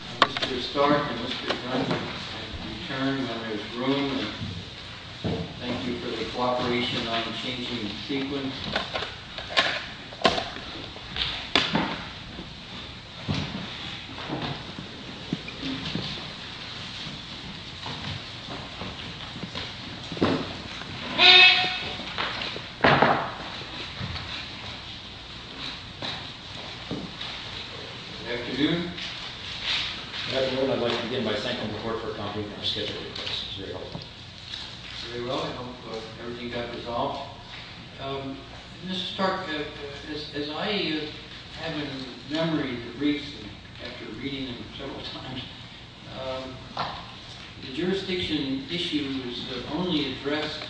Mr. Stark and Mr. Dunn have returned to their rooms. Thank you for the cooperation on changing the sequence. Good afternoon. Good afternoon. I'd like to begin by thanking the Court for accommodating our scheduled request. Very well. I hope everything got resolved. Mr. Stark, as I have in memory of the briefs after reading them several times, the jurisdiction issues have only addressed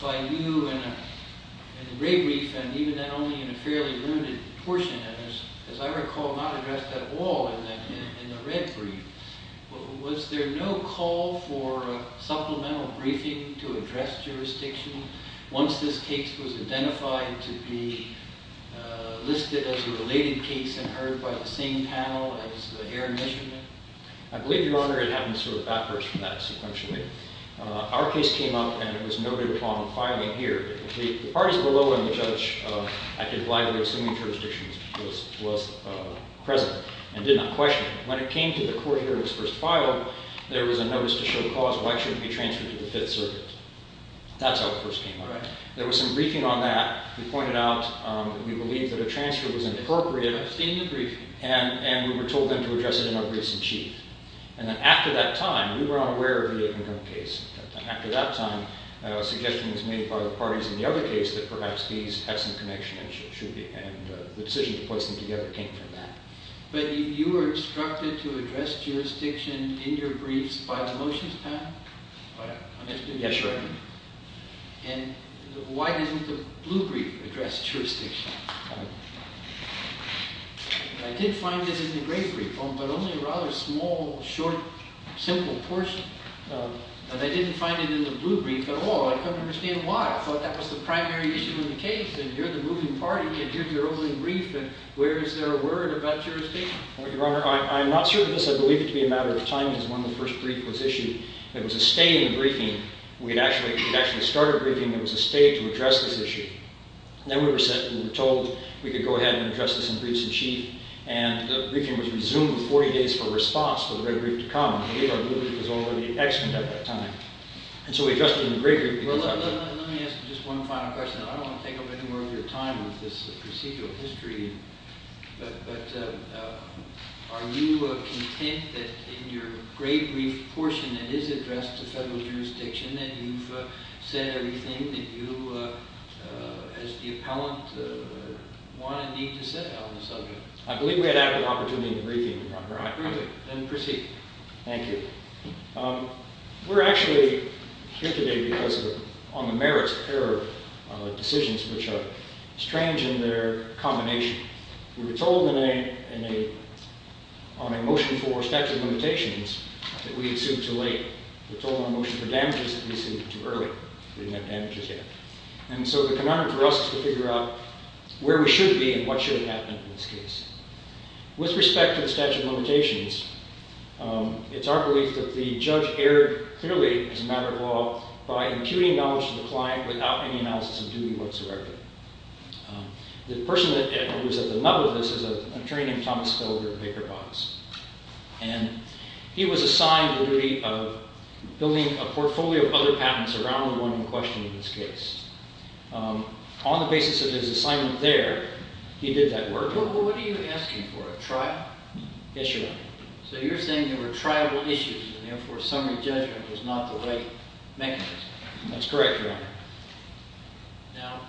by you in the red brief and even then only in a fairly limited portion. As I recall, not addressed at all in the red brief. Was there no call for supplemental briefing to address jurisdiction once this case was identified to be listed as a related case and heard by the same panel as the air measurement? I believe, Your Honor, it happened sort of backwards from that, sequentially. Our case came up and it was noted upon filing here. The parties below and the judge, I can gladly assume jurisdictions, was present and did not question it. When it came to the court hearing's first file, there was a notice to show cause why it shouldn't be transferred to the Fifth Circuit. That's how it first came about. There was some briefing on that. We pointed out that we believed that a transfer was appropriate and we were told then to address it in our briefs-in-chief. After that time, we were unaware of the income case. After that time, a suggestion was made by the parties in the other case that perhaps these had some connection and the decision to place them together came from that. But you were instructed to address jurisdiction in your briefs by the motions panel? Yes, Your Honor. And why didn't the blue brief address jurisdiction? I did find this in the gray brief, but only a rather small, short, simple portion. And I didn't find it in the blue brief at all. I couldn't understand why. I thought that was the primary issue in the case. And you're the moving party and you're the only brief, and where is there a word about jurisdiction? Your Honor, I'm not sure of this. I believe it to be a matter of timing as when the first brief was issued. There was a stay in the briefing. We had actually started briefing. There was a stay to address this issue. Then we were told we could go ahead and address this in briefs-in-chief, and the briefing was resumed 40 days before response for the red brief to come. I believe our blue brief was already extant at that time. And so we addressed it in the gray brief. Well, let me ask just one final question. I don't want to take up any more of your time with this procedural history, but are you content that in your gray brief portion that is addressed to federal jurisdiction that you've said everything that you, as the appellant, want and need to say on the subject? I believe we had added an opportunity in the briefing, Your Honor. I approve it. Then proceed. Thank you. We're actually here today because of on the merits of error decisions which are strange in their combination. We were told on a motion for statute of limitations that we had sued too late. We were told on a motion for damages that we had sued too early. We didn't have damages yet. And so the conundrum for us is to figure out where we should be and what should have happened in this case. With respect to the statute of limitations, it's our belief that the judge erred clearly as a matter of law by imputing knowledge to the client without any analysis of duty whatsoever. The person that was at the level of this is an attorney named Thomas Hildreth Baker Boggs. And he was assigned the duty of building a portfolio of other patents around the one in question in this case. On the basis of his assignment there, he did that work. Well, what are you asking for, a trial? Yes, Your Honor. So you're saying there were trial issues and therefore summary judgment was not the right mechanism. That's correct, Your Honor. Now,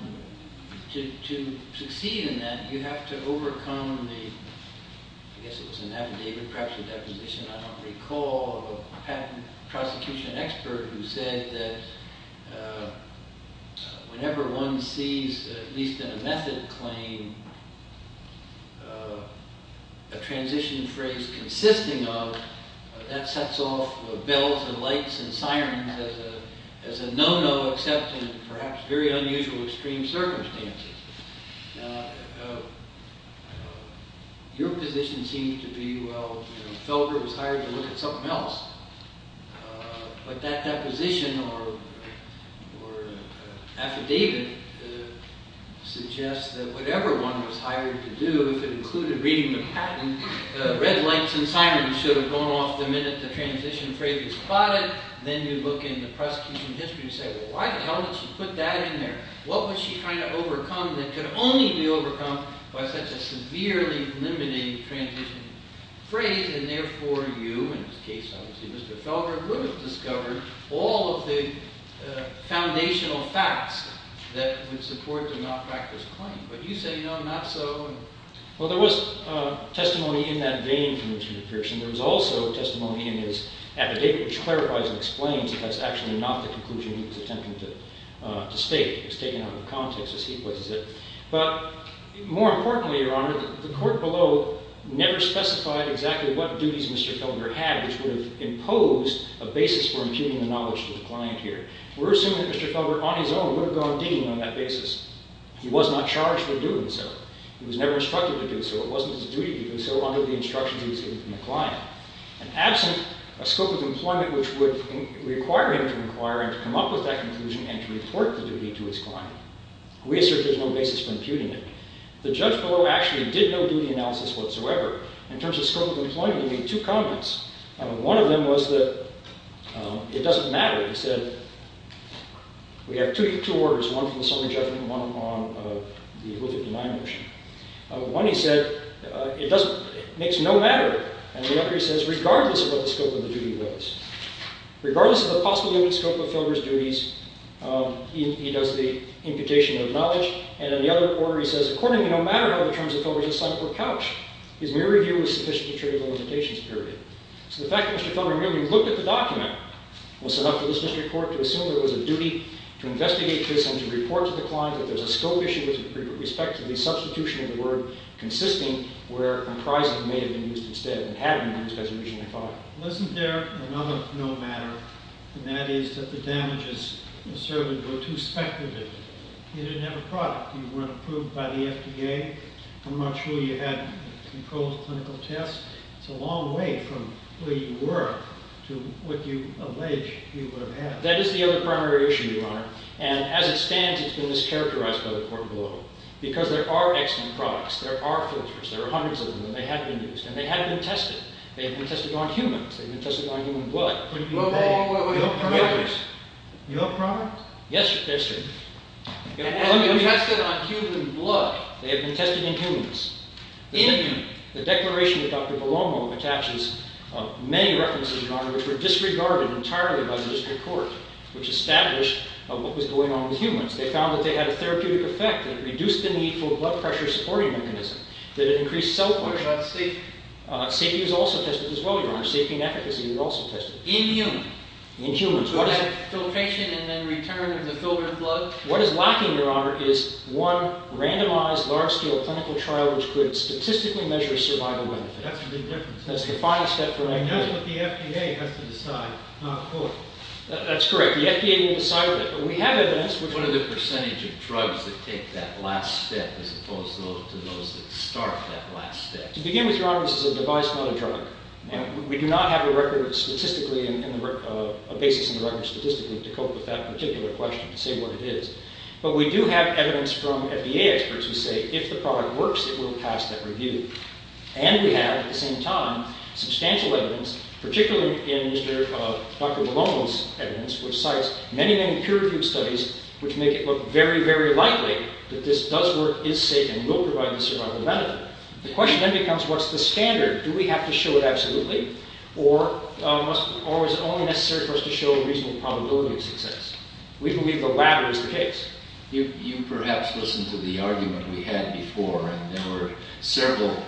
to succeed in that, you have to overcome the – I guess it was an affidavit, perhaps a deposition, I don't recall – patent prosecution expert who said that whenever one sees, at least in a method claim, a transition phrase consisting of, that sets off bells and lights and sirens as a no-no except in perhaps very unusual extreme circumstances. Your position seems to be, well, Felder was hired to look at something else. But that deposition or affidavit suggests that whatever one was hired to do, if it included reading the patent, red lights and sirens should have gone off the minute the transition phrase was plotted. Then you look in the prosecution history and say, well, why the hell did she put that in there? What was she trying to overcome that could only be overcome by such a severely limiting transition phrase? And therefore you, in this case obviously Mr. Felder, could have discovered all of the foundational facts that would support the non-practice claim. But you say, no, not so. Well, there was testimony in that vein from Richard Pearson. There was also testimony in his affidavit which clarifies and explains that that's actually not the conclusion he was attempting to state. It was taken out of context as he places it. But more importantly, Your Honor, the court below never specified exactly what duties Mr. Felder had which would have imposed a basis for impugning the knowledge to the client here. We're assuming that Mr. Felder on his own would have gone digging on that basis. He was not charged for doing so. He was never instructed to do so. It wasn't his duty to do so under the instructions he was given from the client. And absent a scope of employment which would require him to inquire and to come up with that conclusion and to report the duty to his client. We assert there's no basis for impugning it. The judge below actually did no duty analysis whatsoever. In terms of scope of employment, he made two comments. One of them was that it doesn't matter. He said, we have two orders, one from the sermon judgment and one on the oath of denial motion. One, he said, it makes no matter. And the other, he says, regardless of what the scope of the duty was, regardless of the possible limited scope of Felder's duties, he does the imputation of knowledge. And in the other order, he says, accordingly, no matter how the terms of Felder's assignment were couched, his mere review was sufficient to trigger the limitations period. So the fact that Mr. Felder merely looked at the document was enough for this district court to assume that it was a duty to investigate this and to report to the client that there's a scope issue with respect to the substitution of the word consisting where comprising may have been used instead and had been used as originally thought. Isn't there another no matter? And that is that the damages asserted were too speculative. You didn't have a product. You weren't approved by the FDA. I'm not sure you had controlled clinical tests. It's a long way from where you were to what you allege you would have had. That is the other primary issue, Your Honor. And as it stands, it's been mischaracterized by the court below. Because there are excellent products. There are filters. There are hundreds of them. And they have been used. And they have been tested. They have been tested on humans. They have been tested on human blood. Wait, wait, wait. Your product? Your product? Yes, sir. Yes, sir. They have been tested on human blood. They have been tested in humans. In humans. The declaration that Dr. Palomo attaches many references to, Your Honor, which were disregarded entirely by the district court, which established what was going on with humans. They found that they had a therapeutic effect. They reduced the need for a blood pressure supporting mechanism. That it increased cell function. What about safety? Safety was also tested as well, Your Honor. Safety and efficacy were also tested. In humans. In humans. What is it? Filtration and then return of the filtered blood. What is lacking, Your Honor, is one randomized large-scale clinical trial which could statistically measure survival benefit. That's the big difference. That's the final step for FDA. And that's what the FDA has to decide, not the court. That's correct. The FDA didn't decide that. But we have evidence. What are the percentage of drugs that take that last step as opposed to those that start that last step? To begin with, Your Honor, this is a device, not a drug. And we do not have a record statistically, a basis in the record statistically to cope with that particular question to say what it is. But we do have evidence from FDA experts who say if the product works, it will pass that review. And we have, at the same time, substantial evidence, particularly in Dr. Palomo's evidence, which cites many, many peer-reviewed studies which make it look very, very likely that this does work, is safe, and will provide the survival benefit. The question then becomes what's the standard? Do we have to show it absolutely? Or is it only necessary for us to show a reasonable probability of success? We believe the latter is the case. You perhaps listened to the argument we had before, and there were several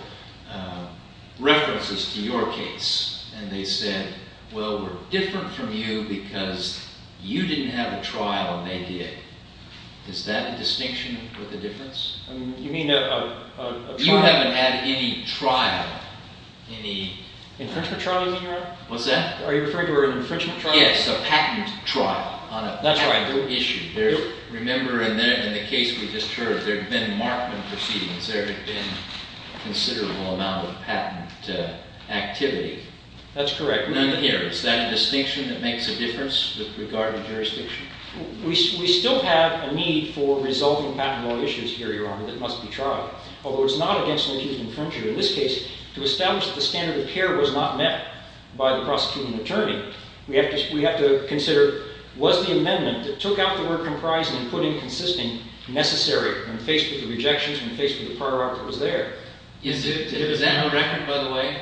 references to your case. And they said, well, we're different from you because you didn't have a trial and they did. Is that a distinction with a difference? You mean a trial? You haven't had any trial. Any? Infringement trial you mean, Your Honor? What's that? Are you referring to an infringement trial? Yes, a patent trial on a patent issue. That's right. Remember in the case we just heard, there had been markman proceedings. There had been a considerable amount of patent activity. That's correct. None here. Is that a distinction that makes a difference with regard to jurisdiction? We still have a need for resolving patent law issues here, Your Honor, that must be tried. Although it's not against an accused infringer. In this case, to establish that the standard of care was not met by the prosecuting attorney, we have to consider was the amendment that took out the word comprise and put in consistent necessary when faced with the rejections, when faced with the prior art that was there? Is that on record, by the way?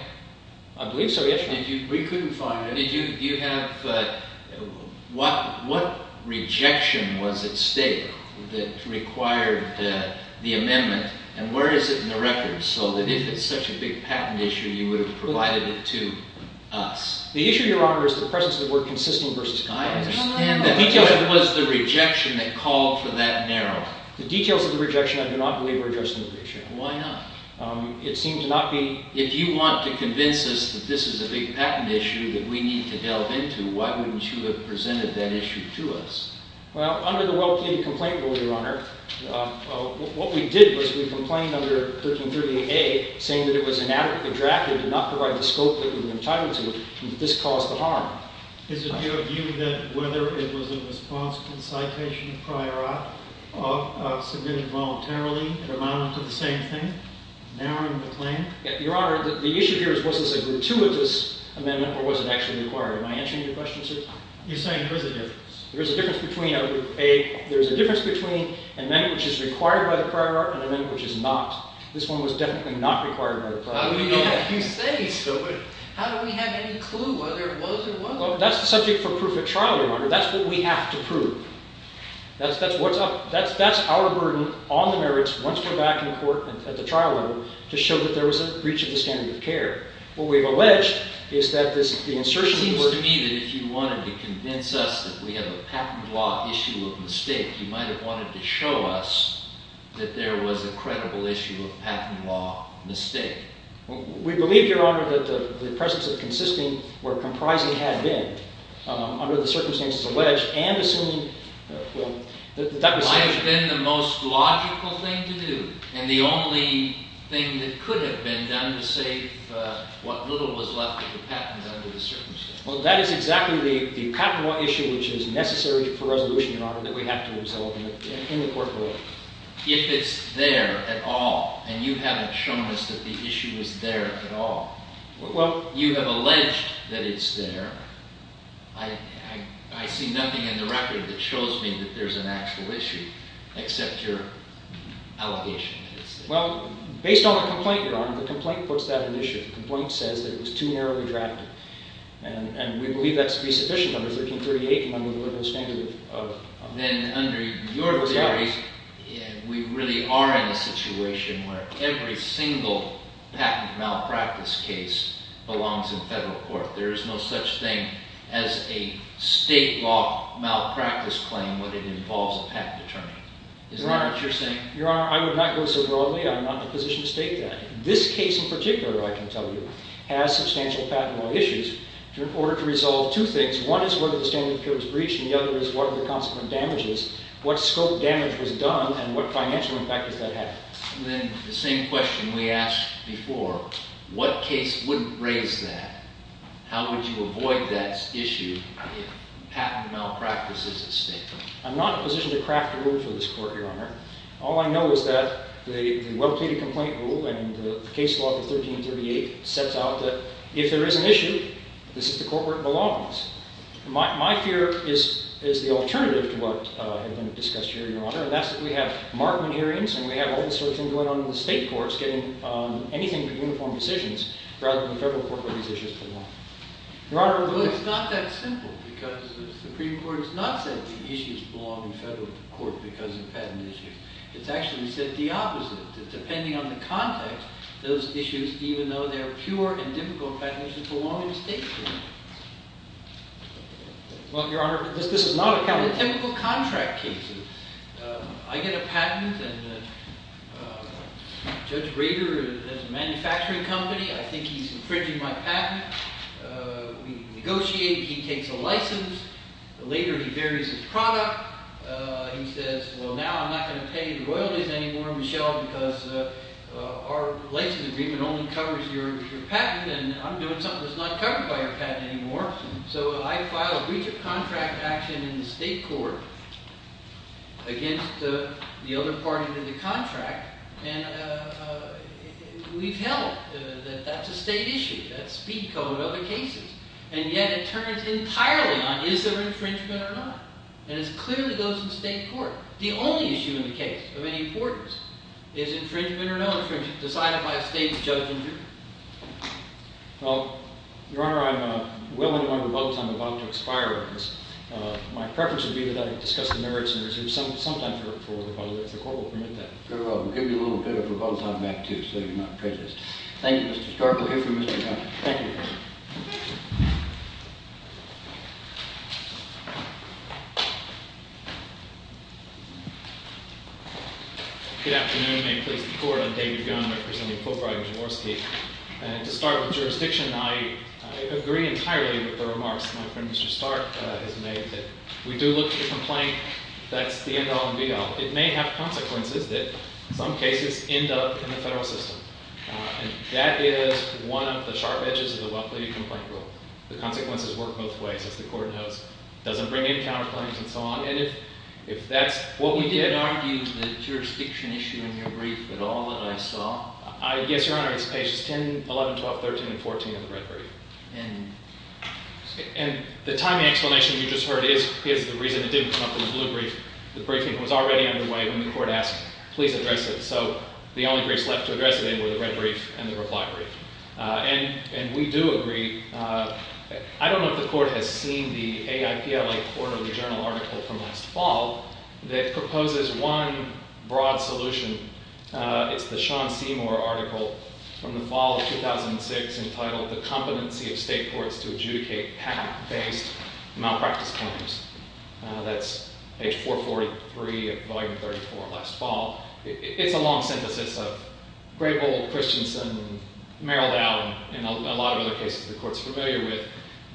I believe so, yes, Your Honor. We couldn't find it. What rejection was at stake that required the amendment? And where is it in the record so that if it's such a big patent issue, you would have provided it to us? The issue, Your Honor, is the presence of the word consistent versus comprise. The details of it was the rejection that called for that narrowing. The details of the rejection I do not believe were addressed in the petition. Why not? It seemed to not be. If you want to convince us that this is a big patent issue that we need to delve into, why wouldn't you have presented that issue to us? Well, under the well-planned complaint rule, Your Honor, what we did was we complained under 1338A saying that it was inadequately drafted to not provide the scope that we were entitled to, and that this caused the harm. Is it your view that whether it was a responsible citation of prior art submitted voluntarily, it amounted to the same thing, narrowing the claim? Your Honor, the issue here is was this a gratuitous amendment or was it actually required? Am I answering your question, sir? You're saying there is a difference. There is a difference between an amendment which is required by the prior art and an amendment which is not. This one was definitely not required by the prior art. How do we know that? You say so, but how do we have any clue whether it was or wasn't? Well, that's the subject for proof at trial, Your Honor. That's what we have to prove. That's what's up. That's our burden on the merits once we're back in court at the trial level to show that there was a breach of the standard of care. What we've alleged is that the insertion of the word… It seems to me that if you wanted to convince us that we have a patent law issue of mistake, you might have wanted to show us that there was a credible issue of patent law mistake. We believe, Your Honor, that the presence of consisting or comprising had been, under the circumstances alleged, and assuming… Well, that was… Might have been the most logical thing to do and the only thing that could have been done to save what little was left of the patent under the circumstances. Well, that is exactly the patent law issue which is necessary for resolution, Your Honor, that we have to resolve in the court world. If it's there at all and you haven't shown us that the issue is there at all, you have alleged that it's there. I see nothing in the record that shows me that there's an actual issue except your allegation. Well, based on the complaint, Your Honor, the complaint puts that at issue. The complaint says that it was too narrowly drafted and we believe that to be sufficient under 1338 and under the liberal standard of… Then, under your theories, we really are in a situation where every single patent malpractice case belongs in federal court. There is no such thing as a state law malpractice claim when it involves a patent attorney. Is that what you're saying? Your Honor, I would not go so broadly. I'm not in a position to state that. This case in particular, I can tell you, has substantial patent law issues. In order to resolve two things, one is whether the standard of appeal is breached and the other is what are the consequent damages, what scope damage was done and what financial impact does that have. Then, the same question we asked before, what case wouldn't raise that? How would you avoid that issue if patent malpractice is at stake? I'm not in a position to craft a rule for this court, Your Honor. All I know is that the well-pleaded complaint rule and the case law of 1338 sets out that if there is an issue, this is the court where it belongs. My fear is the alternative to what has been discussed here, Your Honor, and that's that we have Markman hearings and we have all sorts of things going on in the state courts getting anything but uniform decisions rather than the federal court where these issues belong. Well, it's not that simple because the Supreme Court has not said that the issues belong in federal court because of patent issues. It's actually said the opposite, that depending on the context, those issues, even though they're pure and difficult patent issues, belong in state courts. Well, Your Honor, this is not a county court. These are the typical contract cases. I get a patent, and Judge Rader has a manufacturing company. I think he's infringing my patent. We negotiate. He takes a license. Later, he varies his product. He says, well, now I'm not going to pay the royalties anymore, Michelle, because our license agreement only covers your patent, and I'm doing something that's not covered by your patent anymore. So I file a breach of contract action in the state court against the other party to the contract, and we've held that that's a state issue. That's speed code in other cases. And yet, it turns entirely on is there infringement or not. And it clearly goes to the state court. The only issue in the case of any importance is infringement or no infringement decided by a state judge and jury. Well, Your Honor, I'm well into my rebuttal time. I'm about to expire on this. My preference would be that I discuss the merits and reserve some time for rebuttal, if the court will permit that. Good. Well, we'll give you a little bit of rebuttal time back, too, so you're not prejudiced. Thank you, Mr. Stark. We'll hear from Mr. Gunn. Thank you. Good afternoon. I'm David Gunn, representing Fulbright v. Morski. And to start with jurisdiction, I agree entirely with the remarks that my friend, Mr. Stark, has made. We do look to the complaint. That's the end all and be all. It may have consequences that, in some cases, end up in the federal system. And that is one of the sharp edges of the well-pleaded complaint rule. The consequences work both ways, as the court knows. It doesn't bring in counterclaims and so on. Would you argue the jurisdiction issue in your brief at all that I saw? Yes, Your Honor. It's pages 10, 11, 12, 13, and 14 of the red brief. And the timing explanation you just heard is the reason it didn't come up in the blue brief. The briefing was already underway when the court asked, please address it. So the only briefs left to address it in were the red brief and the reply brief. And we do agree. I don't know if the court has seen the AIPLA quarterly journal article from last fall that proposes one broad solution. It's the Sean Seymour article from the fall of 2006 entitled The Competency of State Courts to Adjudicate Patent-Based Malpractice Claims. That's page 443 of volume 34 last fall. It's a long synthesis of Grebel, Christensen, Merrill Dow, and a lot of other cases the court's familiar with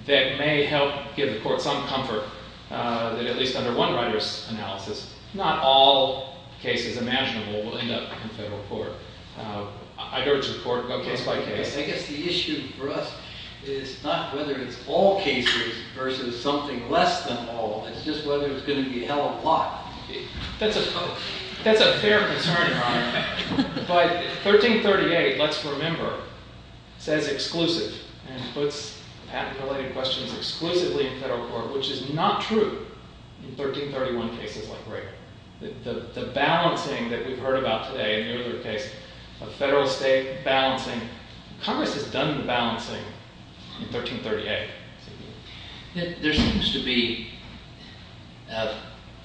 that may help give the court some comfort that at least under one writer's analysis, not all cases imaginable will end up in federal court. I'd urge the court to go case by case. I guess the issue for us is not whether it's all cases versus something less than all. It's just whether it's going to be a hell of a lot. That's a fair concern, Your Honor. But 1338, let's remember, says exclusive and puts patent-related questions exclusively in federal court, which is not true in 1331 cases like Grebel. The balancing that we've heard about today in your other case of federal-state balancing, Congress has done the balancing in 1338. There seems to be a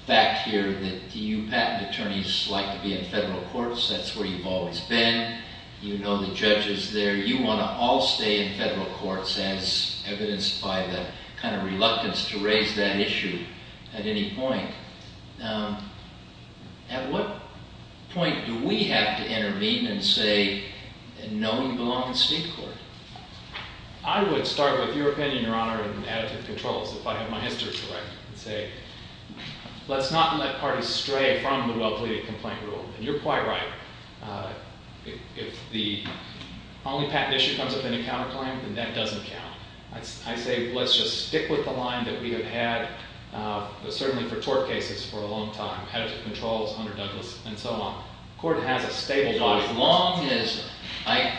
fact here that you patent attorneys like to be in federal courts. That's where you've always been. You know the judges there. You want to all stay in federal courts as evidenced by the kind of reluctance to raise that issue at any point. At what point do we have to intervene and say, no, we belong in state court? I would start with your opinion, Your Honor, in additive controls, if I have my history correct, and say let's not let parties stray from the well-pleaded complaint rule. And you're quite right. If the only patent issue comes up in a counterclaim, then that doesn't count. I say let's just stick with the line that we have had certainly for tort cases for a long time, additive controls, Hunter Douglas, and so on. As long as I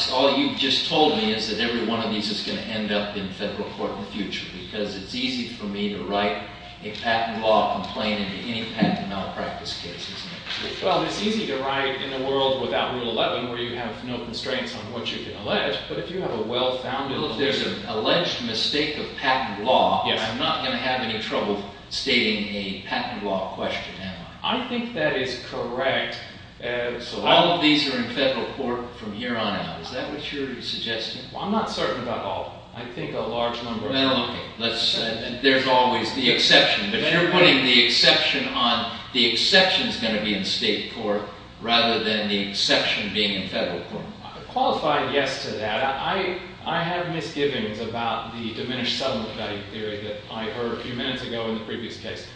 – all you've just told me is that every one of these is going to end up in federal court in the future, because it's easy for me to write a patent law complaint into any patent malpractice case, isn't it? Well, it's easy to write in a world without Rule 11 where you have no constraints on what you can allege, but if you have a well-founded – Well, if there's an alleged mistake of patent law, I'm not going to have any trouble stating a patent law question, am I? I think that is correct. So all of these are in federal court from here on out. Is that what you're suggesting? Well, I'm not certain about all of them. I think a large number of them are in federal court. Okay. Let's – there's always the exception. If you're putting the exception on, the exception is going to be in state court rather than the exception being in federal court. I qualified yes to that. I have misgivings about the diminished settlement value theory that I heard a few minutes ago in the previous case.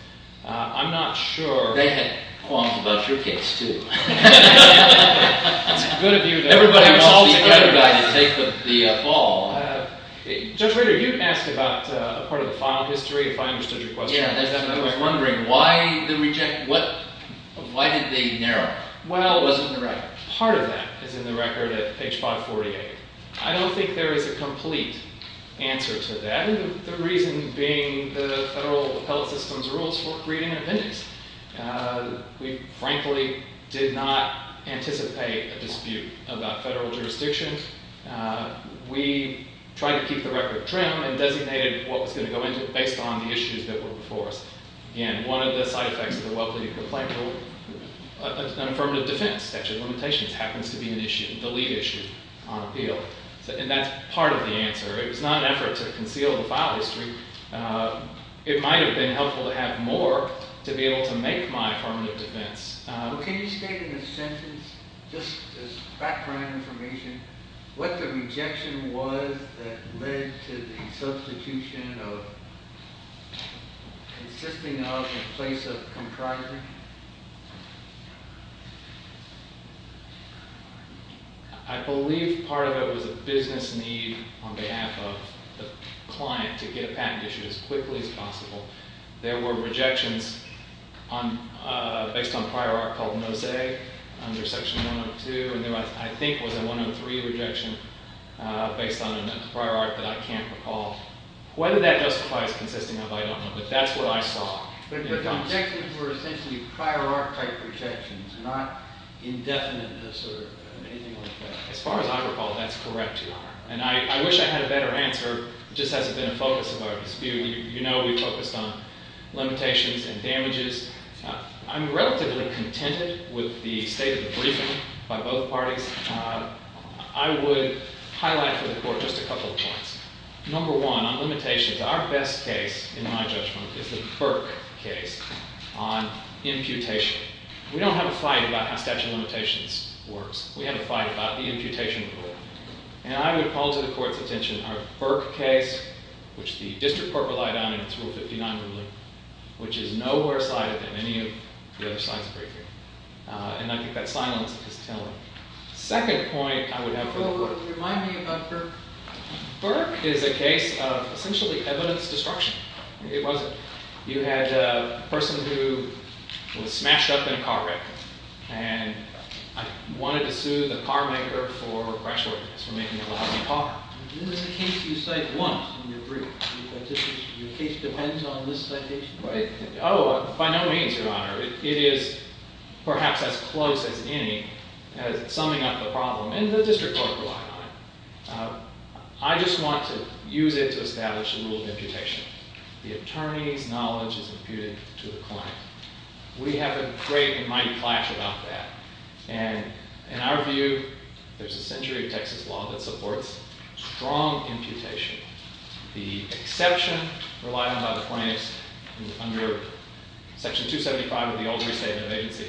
I'm not sure – They had qualms about your case, too. It's good of you to – Everybody was all together. They put the ball. Judge Rader, you asked about a part of the file history, if I understood your question. Yeah. I was wondering why the – why did they narrow it? What was in the record? Well, part of that is in the record at page 548. I don't think there is a complete answer to that, the reason being the federal appellate system's rules for greeting an appendix. We, frankly, did not anticipate a dispute about federal jurisdiction. We tried to keep the record trim and designated what was going to go into it based on the issues that were before us. Again, one of the side effects of the well-pleaded complaint rule, an affirmative defense statute of limitations happens to be an issue, the lead issue on appeal, and that's part of the answer. It was not an effort to conceal the file history. It might have been helpful to have more to be able to make my affirmative defense. Can you state in a sentence, just as background information, what the rejection was that led to the substitution of consisting of in place of comprising? I believe part of it was a business need on behalf of the client to get a patent issued as quickly as possible. There were rejections based on prior art called Mosaic under Section 102, and there, I think, was a 103 rejection based on a prior art that I can't recall. Whether that justifies consisting of, I don't know, but that's what I saw. But the objections were essentially prior art type rejections, not indefiniteness or anything like that. As far as I recall, that's correct, Your Honor. And I wish I had a better answer. It just hasn't been a focus of our dispute. You know we focused on limitations and damages. I'm relatively contented with the state of the briefing by both parties. I would highlight for the court just a couple of points. Number one, on limitations, our best case, in my judgment, is the Burke case on imputation. We don't have a fight about how statute of limitations works. We have a fight about the imputation rule. And I would call to the court's attention our Burke case, which the district court relied on in its Rule 59 ruling, which is nowhere sighted than any of the other sides of the briefing. And I think that silence is telling. The second point I would have for the court. Well, what does it remind me about Burke? Burke is a case of essentially evidence destruction. It wasn't. You had a person who was smashed up in a car wreck. And I wanted to sue the car maker for question, for making a loud car. This is a case you cite once in your brief. Oh, by no means, Your Honor. It is perhaps as close as any as summing up the problem. And the district court relied on it. I just want to use it to establish a rule of imputation. The attorney's knowledge is imputed to the client. We have a great and mighty clash about that. And in our view, there's a century of Texas law that supports strong imputation. The exception relied on by the plaintiffs under Section 275 of the Old Restatement of Agency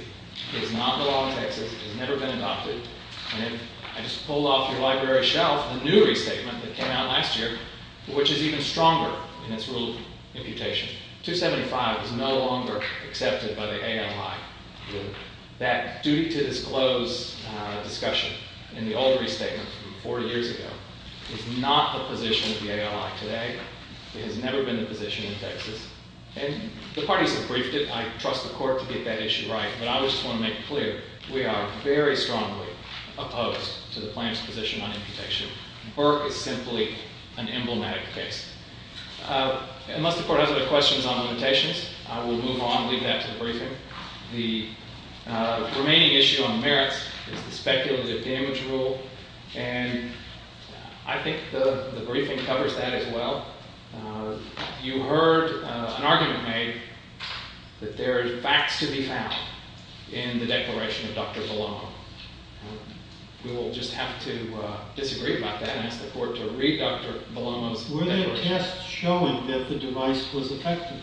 is not the law in Texas. It has never been adopted. And I just pulled off your library shelf the new restatement that came out last year, which is even stronger in its rule of imputation. 275 is no longer accepted by the ALI. That duty to disclose discussion in the old restatement from four years ago is not the position of the ALI today. It has never been the position in Texas. And the parties have briefed it. I trust the court to get that issue right. But I just want to make it clear, we are very strongly opposed to the plaintiff's position on imputation. Burke is simply an emblematic case. Unless the court has other questions on limitations, I will move on and leave that to the briefing. The remaining issue on merits is the speculative damage rule. And I think the briefing covers that as well. You heard an argument made that there are facts to be found in the declaration of Dr. Belomo. We will just have to disagree about that and ask the court to read Dr. Belomo's declaration. Were there tests showing that the device was effective?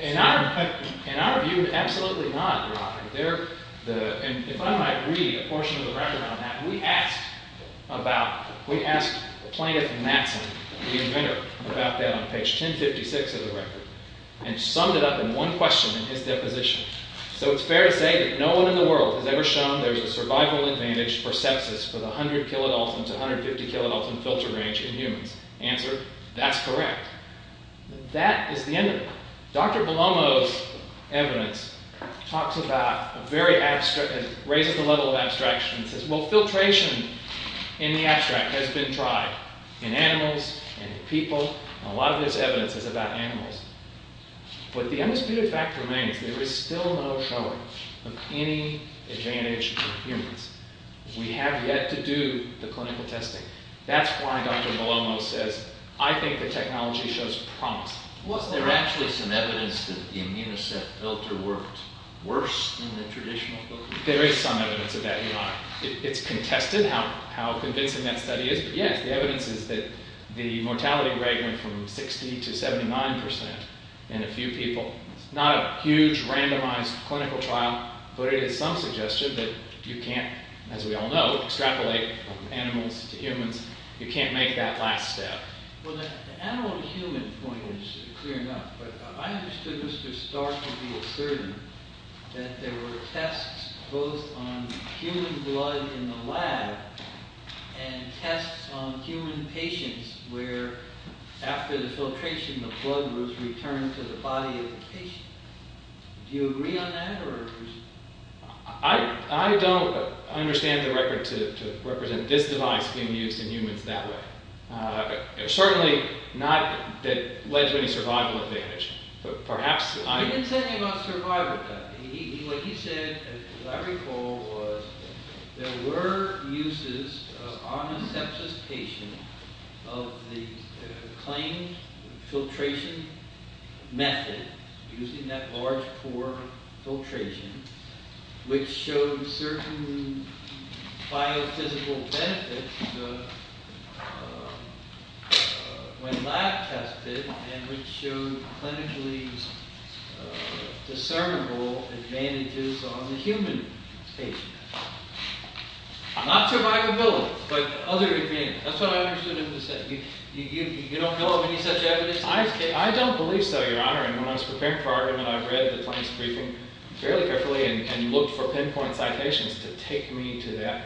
In our view, absolutely not, Your Honor. If I might read a portion of the record on that. We asked Plaintiff Matson, the inventor, about that on page 1056 of the record. And summed it up in one question in his deposition. So it's fair to say that no one in the world has ever shown there's a survival advantage for sepsis for the 100 kilodalton to 150 kilodalton filter range in humans. Answer, that's correct. That is the end of it. Dr. Belomo's evidence raises the level of abstraction and says, well, filtration in the abstract has been tried in animals, in people. A lot of this evidence is about animals. But the undisputed fact remains, there is still no showing of any advantage in humans. We have yet to do the clinical testing. That's why Dr. Belomo says, I think the technology shows promise. Was there actually some evidence that the Immunoset filter worked worse than the traditional filter? There is some evidence of that, Your Honor. It's contested how convincing that study is. But yes, the evidence is that the mortality rate went from 60 to 79 percent in a few people. Not a huge, randomized clinical trial. But it is some suggestion that you can't, as we all know, extrapolate animals to humans. You can't make that last step. Well, the animal to human point is clear enough. But I understood Mr. Stark to be asserting that there were tests both on human blood in the lab and tests on human patients where after the filtration, the blood was returned to the body of the patient. Do you agree on that? I don't understand the record to represent this device being used in humans that way. Certainly not that it led to any survival advantage. He didn't say anything about survival advantage. What he said, as I recall, was there were uses on a sepsis patient of the claimed filtration method, using that large pore filtration, which showed certain biophysical benefits when lab tested and which showed clinically discernible advantages on the human patient. Not survivability, but other advantages. That's what I understood him to say. You don't know of any such evidence? I don't believe so, Your Honor. And when I was preparing for argument, I read the claims briefing fairly carefully and looked for pinpoint citations to take me to that.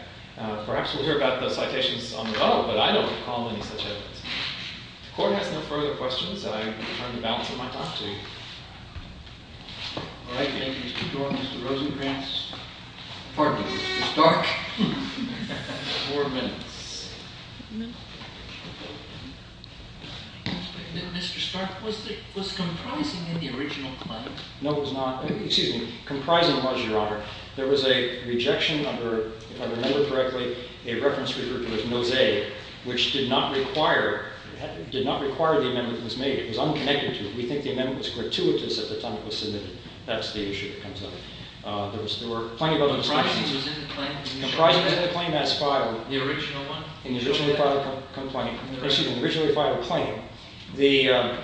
Perhaps we'll hear about those citations on the bill, but I don't recall any such evidence. The court has no further questions. I return the balance of my talk to you. All right, thank you, Mr. Dorn. Mr. Rosenkranz. Pardon me, Mr. Stark. Four minutes. Mr. Stark, was it comprising in the original claim? No, it was not. Excuse me. Comprising was, Your Honor, there was a rejection under, if I remember correctly, a reference referred to as Mosaic, which did not require the amendment was made. It was unconnected to it. We think the amendment was gratuitous at the time it was submitted. That's the issue that comes up. There were plenty of other discussions. Comprising was in the claim? Comprising was in the claim as filed. The original one? In the original filed complaint. Excuse me, the original filed claim. The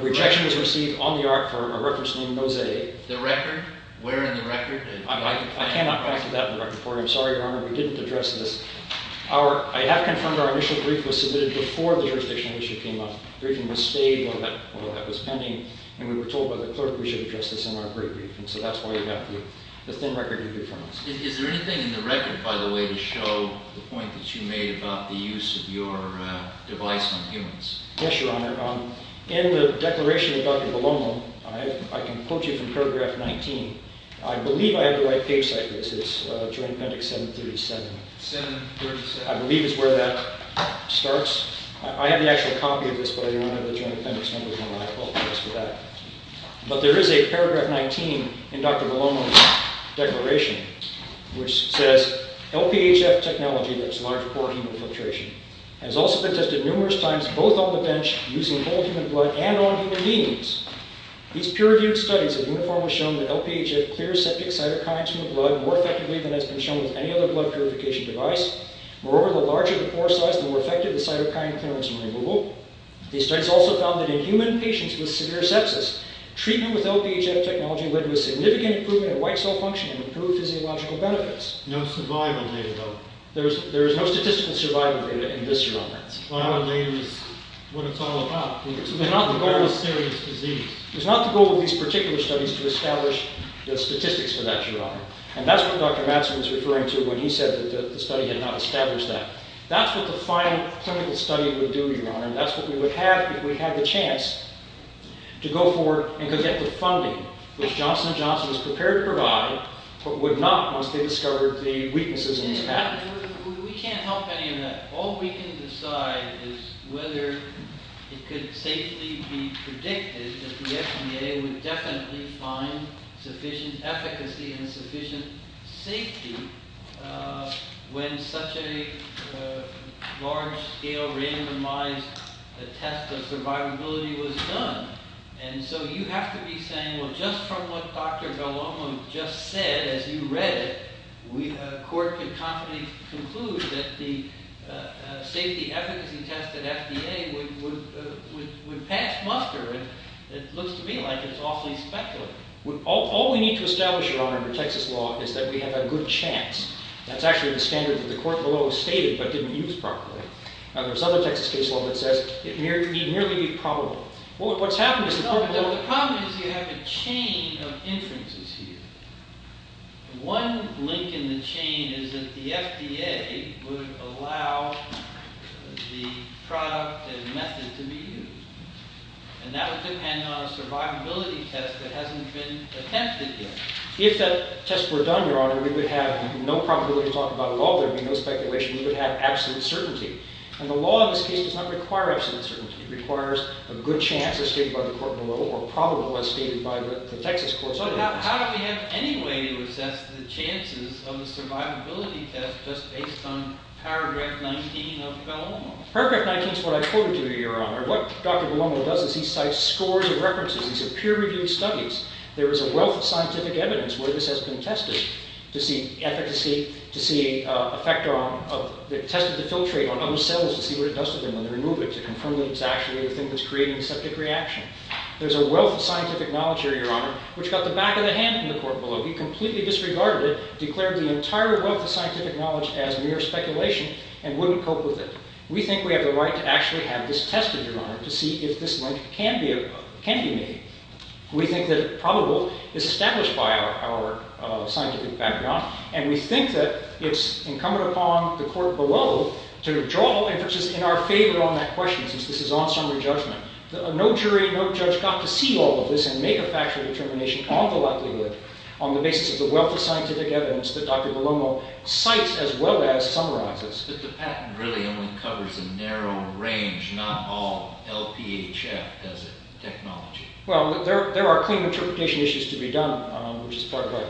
rejection was received on the art for a reference named Mosaic. The record? Where in the record? I cannot factor that in the record for you. I'm sorry, Your Honor, we didn't address this. I have confirmed our initial brief was submitted before the jurisdictional issue came up. The briefing was stayed while that was pending, and we were told by the clerk we should address this in our brief. So that's why you have the thin record you've confirmed. Is there anything in the record, by the way, to show the point that you made about the use of your device on humans? Yes, Your Honor. In the declaration of Dr. Belomo, I can quote you from paragraph 19. I believe I have the right page size for this. It's Joint Appendix 737. 737. I believe is where that starts. I have the actual copy of this, but I do not have the Joint Appendix number, and I apologize for that. But there is a paragraph 19 in Dr. Belomo's declaration, which says, LPHF technology, that's large pore human filtration, has also been tested numerous times, both on the bench, using whole human blood, and on human beings. These peer-reviewed studies have uniformly shown that LPHF clears septic cytokines from the blood more effectively than has been shown with any other blood purification device. Moreover, the larger the pore size, the more effective the cytokine clearance and removal. These studies also found that in human patients with severe sepsis, treatment with LPHF technology led to a significant improvement in white cell function and improved physiological benefits. No survival data, though? There is no statistical survival data in this, Your Honor. Well, I don't think it's what it's all about. It's not the goal of these particular studies to establish the statistics for that, Your Honor. And that's what Dr. Matson was referring to when he said that the study had not established that. That's what the final clinical study would do, Your Honor. That's what we would have if we had the chance to go forward and go get the funding, which Johnson & Johnson was prepared to provide, but would not once they discovered the weaknesses in this pathway. We can't help any of that. All we can decide is whether it could safely be predicted that the FDA would definitely find sufficient efficacy and sufficient safety when such a large-scale, randomized test of survivability was done. And so you have to be saying, well, just from what Dr. Gallomo just said, as you read it, a court could confidently conclude that the safety efficacy test at FDA would pass muster. It looks to me like it's awfully speculative. All we need to establish, Your Honor, under Texas law is that we have a good chance. That's actually the standard that the court below stated but didn't use properly. There's other Texas case law that says it need merely be probable. What's happened is the court below… No, but the problem is you have a chain of inferences here. One link in the chain is that the FDA would allow the product and method to be used. And that would depend on a survivability test that hasn't been attempted yet. If that test were done, Your Honor, we would have no probability to talk about it at all. There would be no speculation. We would have absolute certainty. And the law in this case does not require absolute certainty. It requires a good chance, as stated by the court below, or probable, as stated by the Texas court. But how do we have any way to assess the chances of the survivability test just based on paragraph 19 of Gallomo? Paragraph 19 is what I quoted you, Your Honor. What Dr. Gallomo does is he cites scores of references. These are peer-reviewed studies. There is a wealth of scientific evidence where this has been tested to see efficacy, tested to filtrate on other cells to see what it does to them when they remove it, to confirm that it's actually the thing that's creating the septic reaction. There's a wealth of scientific knowledge here, Your Honor, which got the back of the hand in the court below. He completely disregarded it, declared the entire wealth of scientific knowledge as mere speculation, and wouldn't cope with it. We think we have the right to actually have this tested, Your Honor, to see if this link can be made. We think that probable is established by our scientific background. And we think that it's incumbent upon the court below to draw all inferences in our favor on that question, since this is on summary judgment. No jury, no judge got to see all of this and make a factual determination on the likelihood on the basis of the wealth of scientific evidence that Dr. Gallomo cites as well as summarizes. But the patent really only covers a narrow range, not all. LPHF does it, technology. Well, there are clean interpretation issues to be done, which is part of our...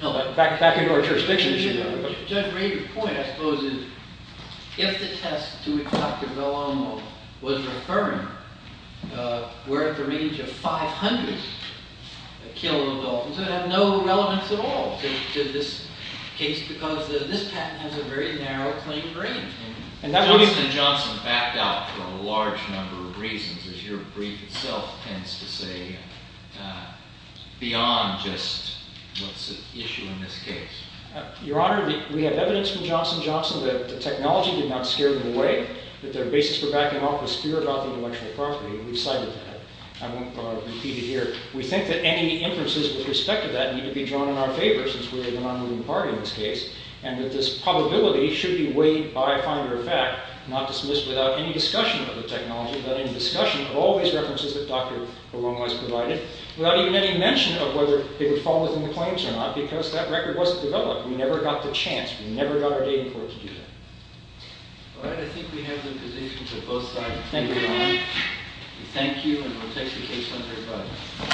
No, back into our jurisdiction issue. Judge Rader's point, I suppose, is if the test to which Dr. Gallomo was referring were at the range of 500 kilodaltons, it would have no relevance at all to this case because this patent has a very narrow, clean range. Jonathan Johnson backed out for a large number of reasons, as your brief itself tends to say, beyond just what's at issue in this case. Your Honor, we have evidence from Johnson & Johnson that the technology did not scare them away, that their basis for backing off was pure gothic intellectual property, and we've cited that. I won't repeat it here. We think that any inferences with respect to that need to be drawn in our favor, since we are the non-moving party in this case, and that this probability should be weighed by finder of fact, not dismissed without any discussion of the technology, without any discussion of all these references that Dr. Gallomo has provided, without even any mention of whether it would fall within the claims or not, because that record wasn't developed. We never got the chance. We never got our dating court to do that. All right. I think we have the positions of both sides. Thank you, Your Honor. Thank you, and we'll take the case under review.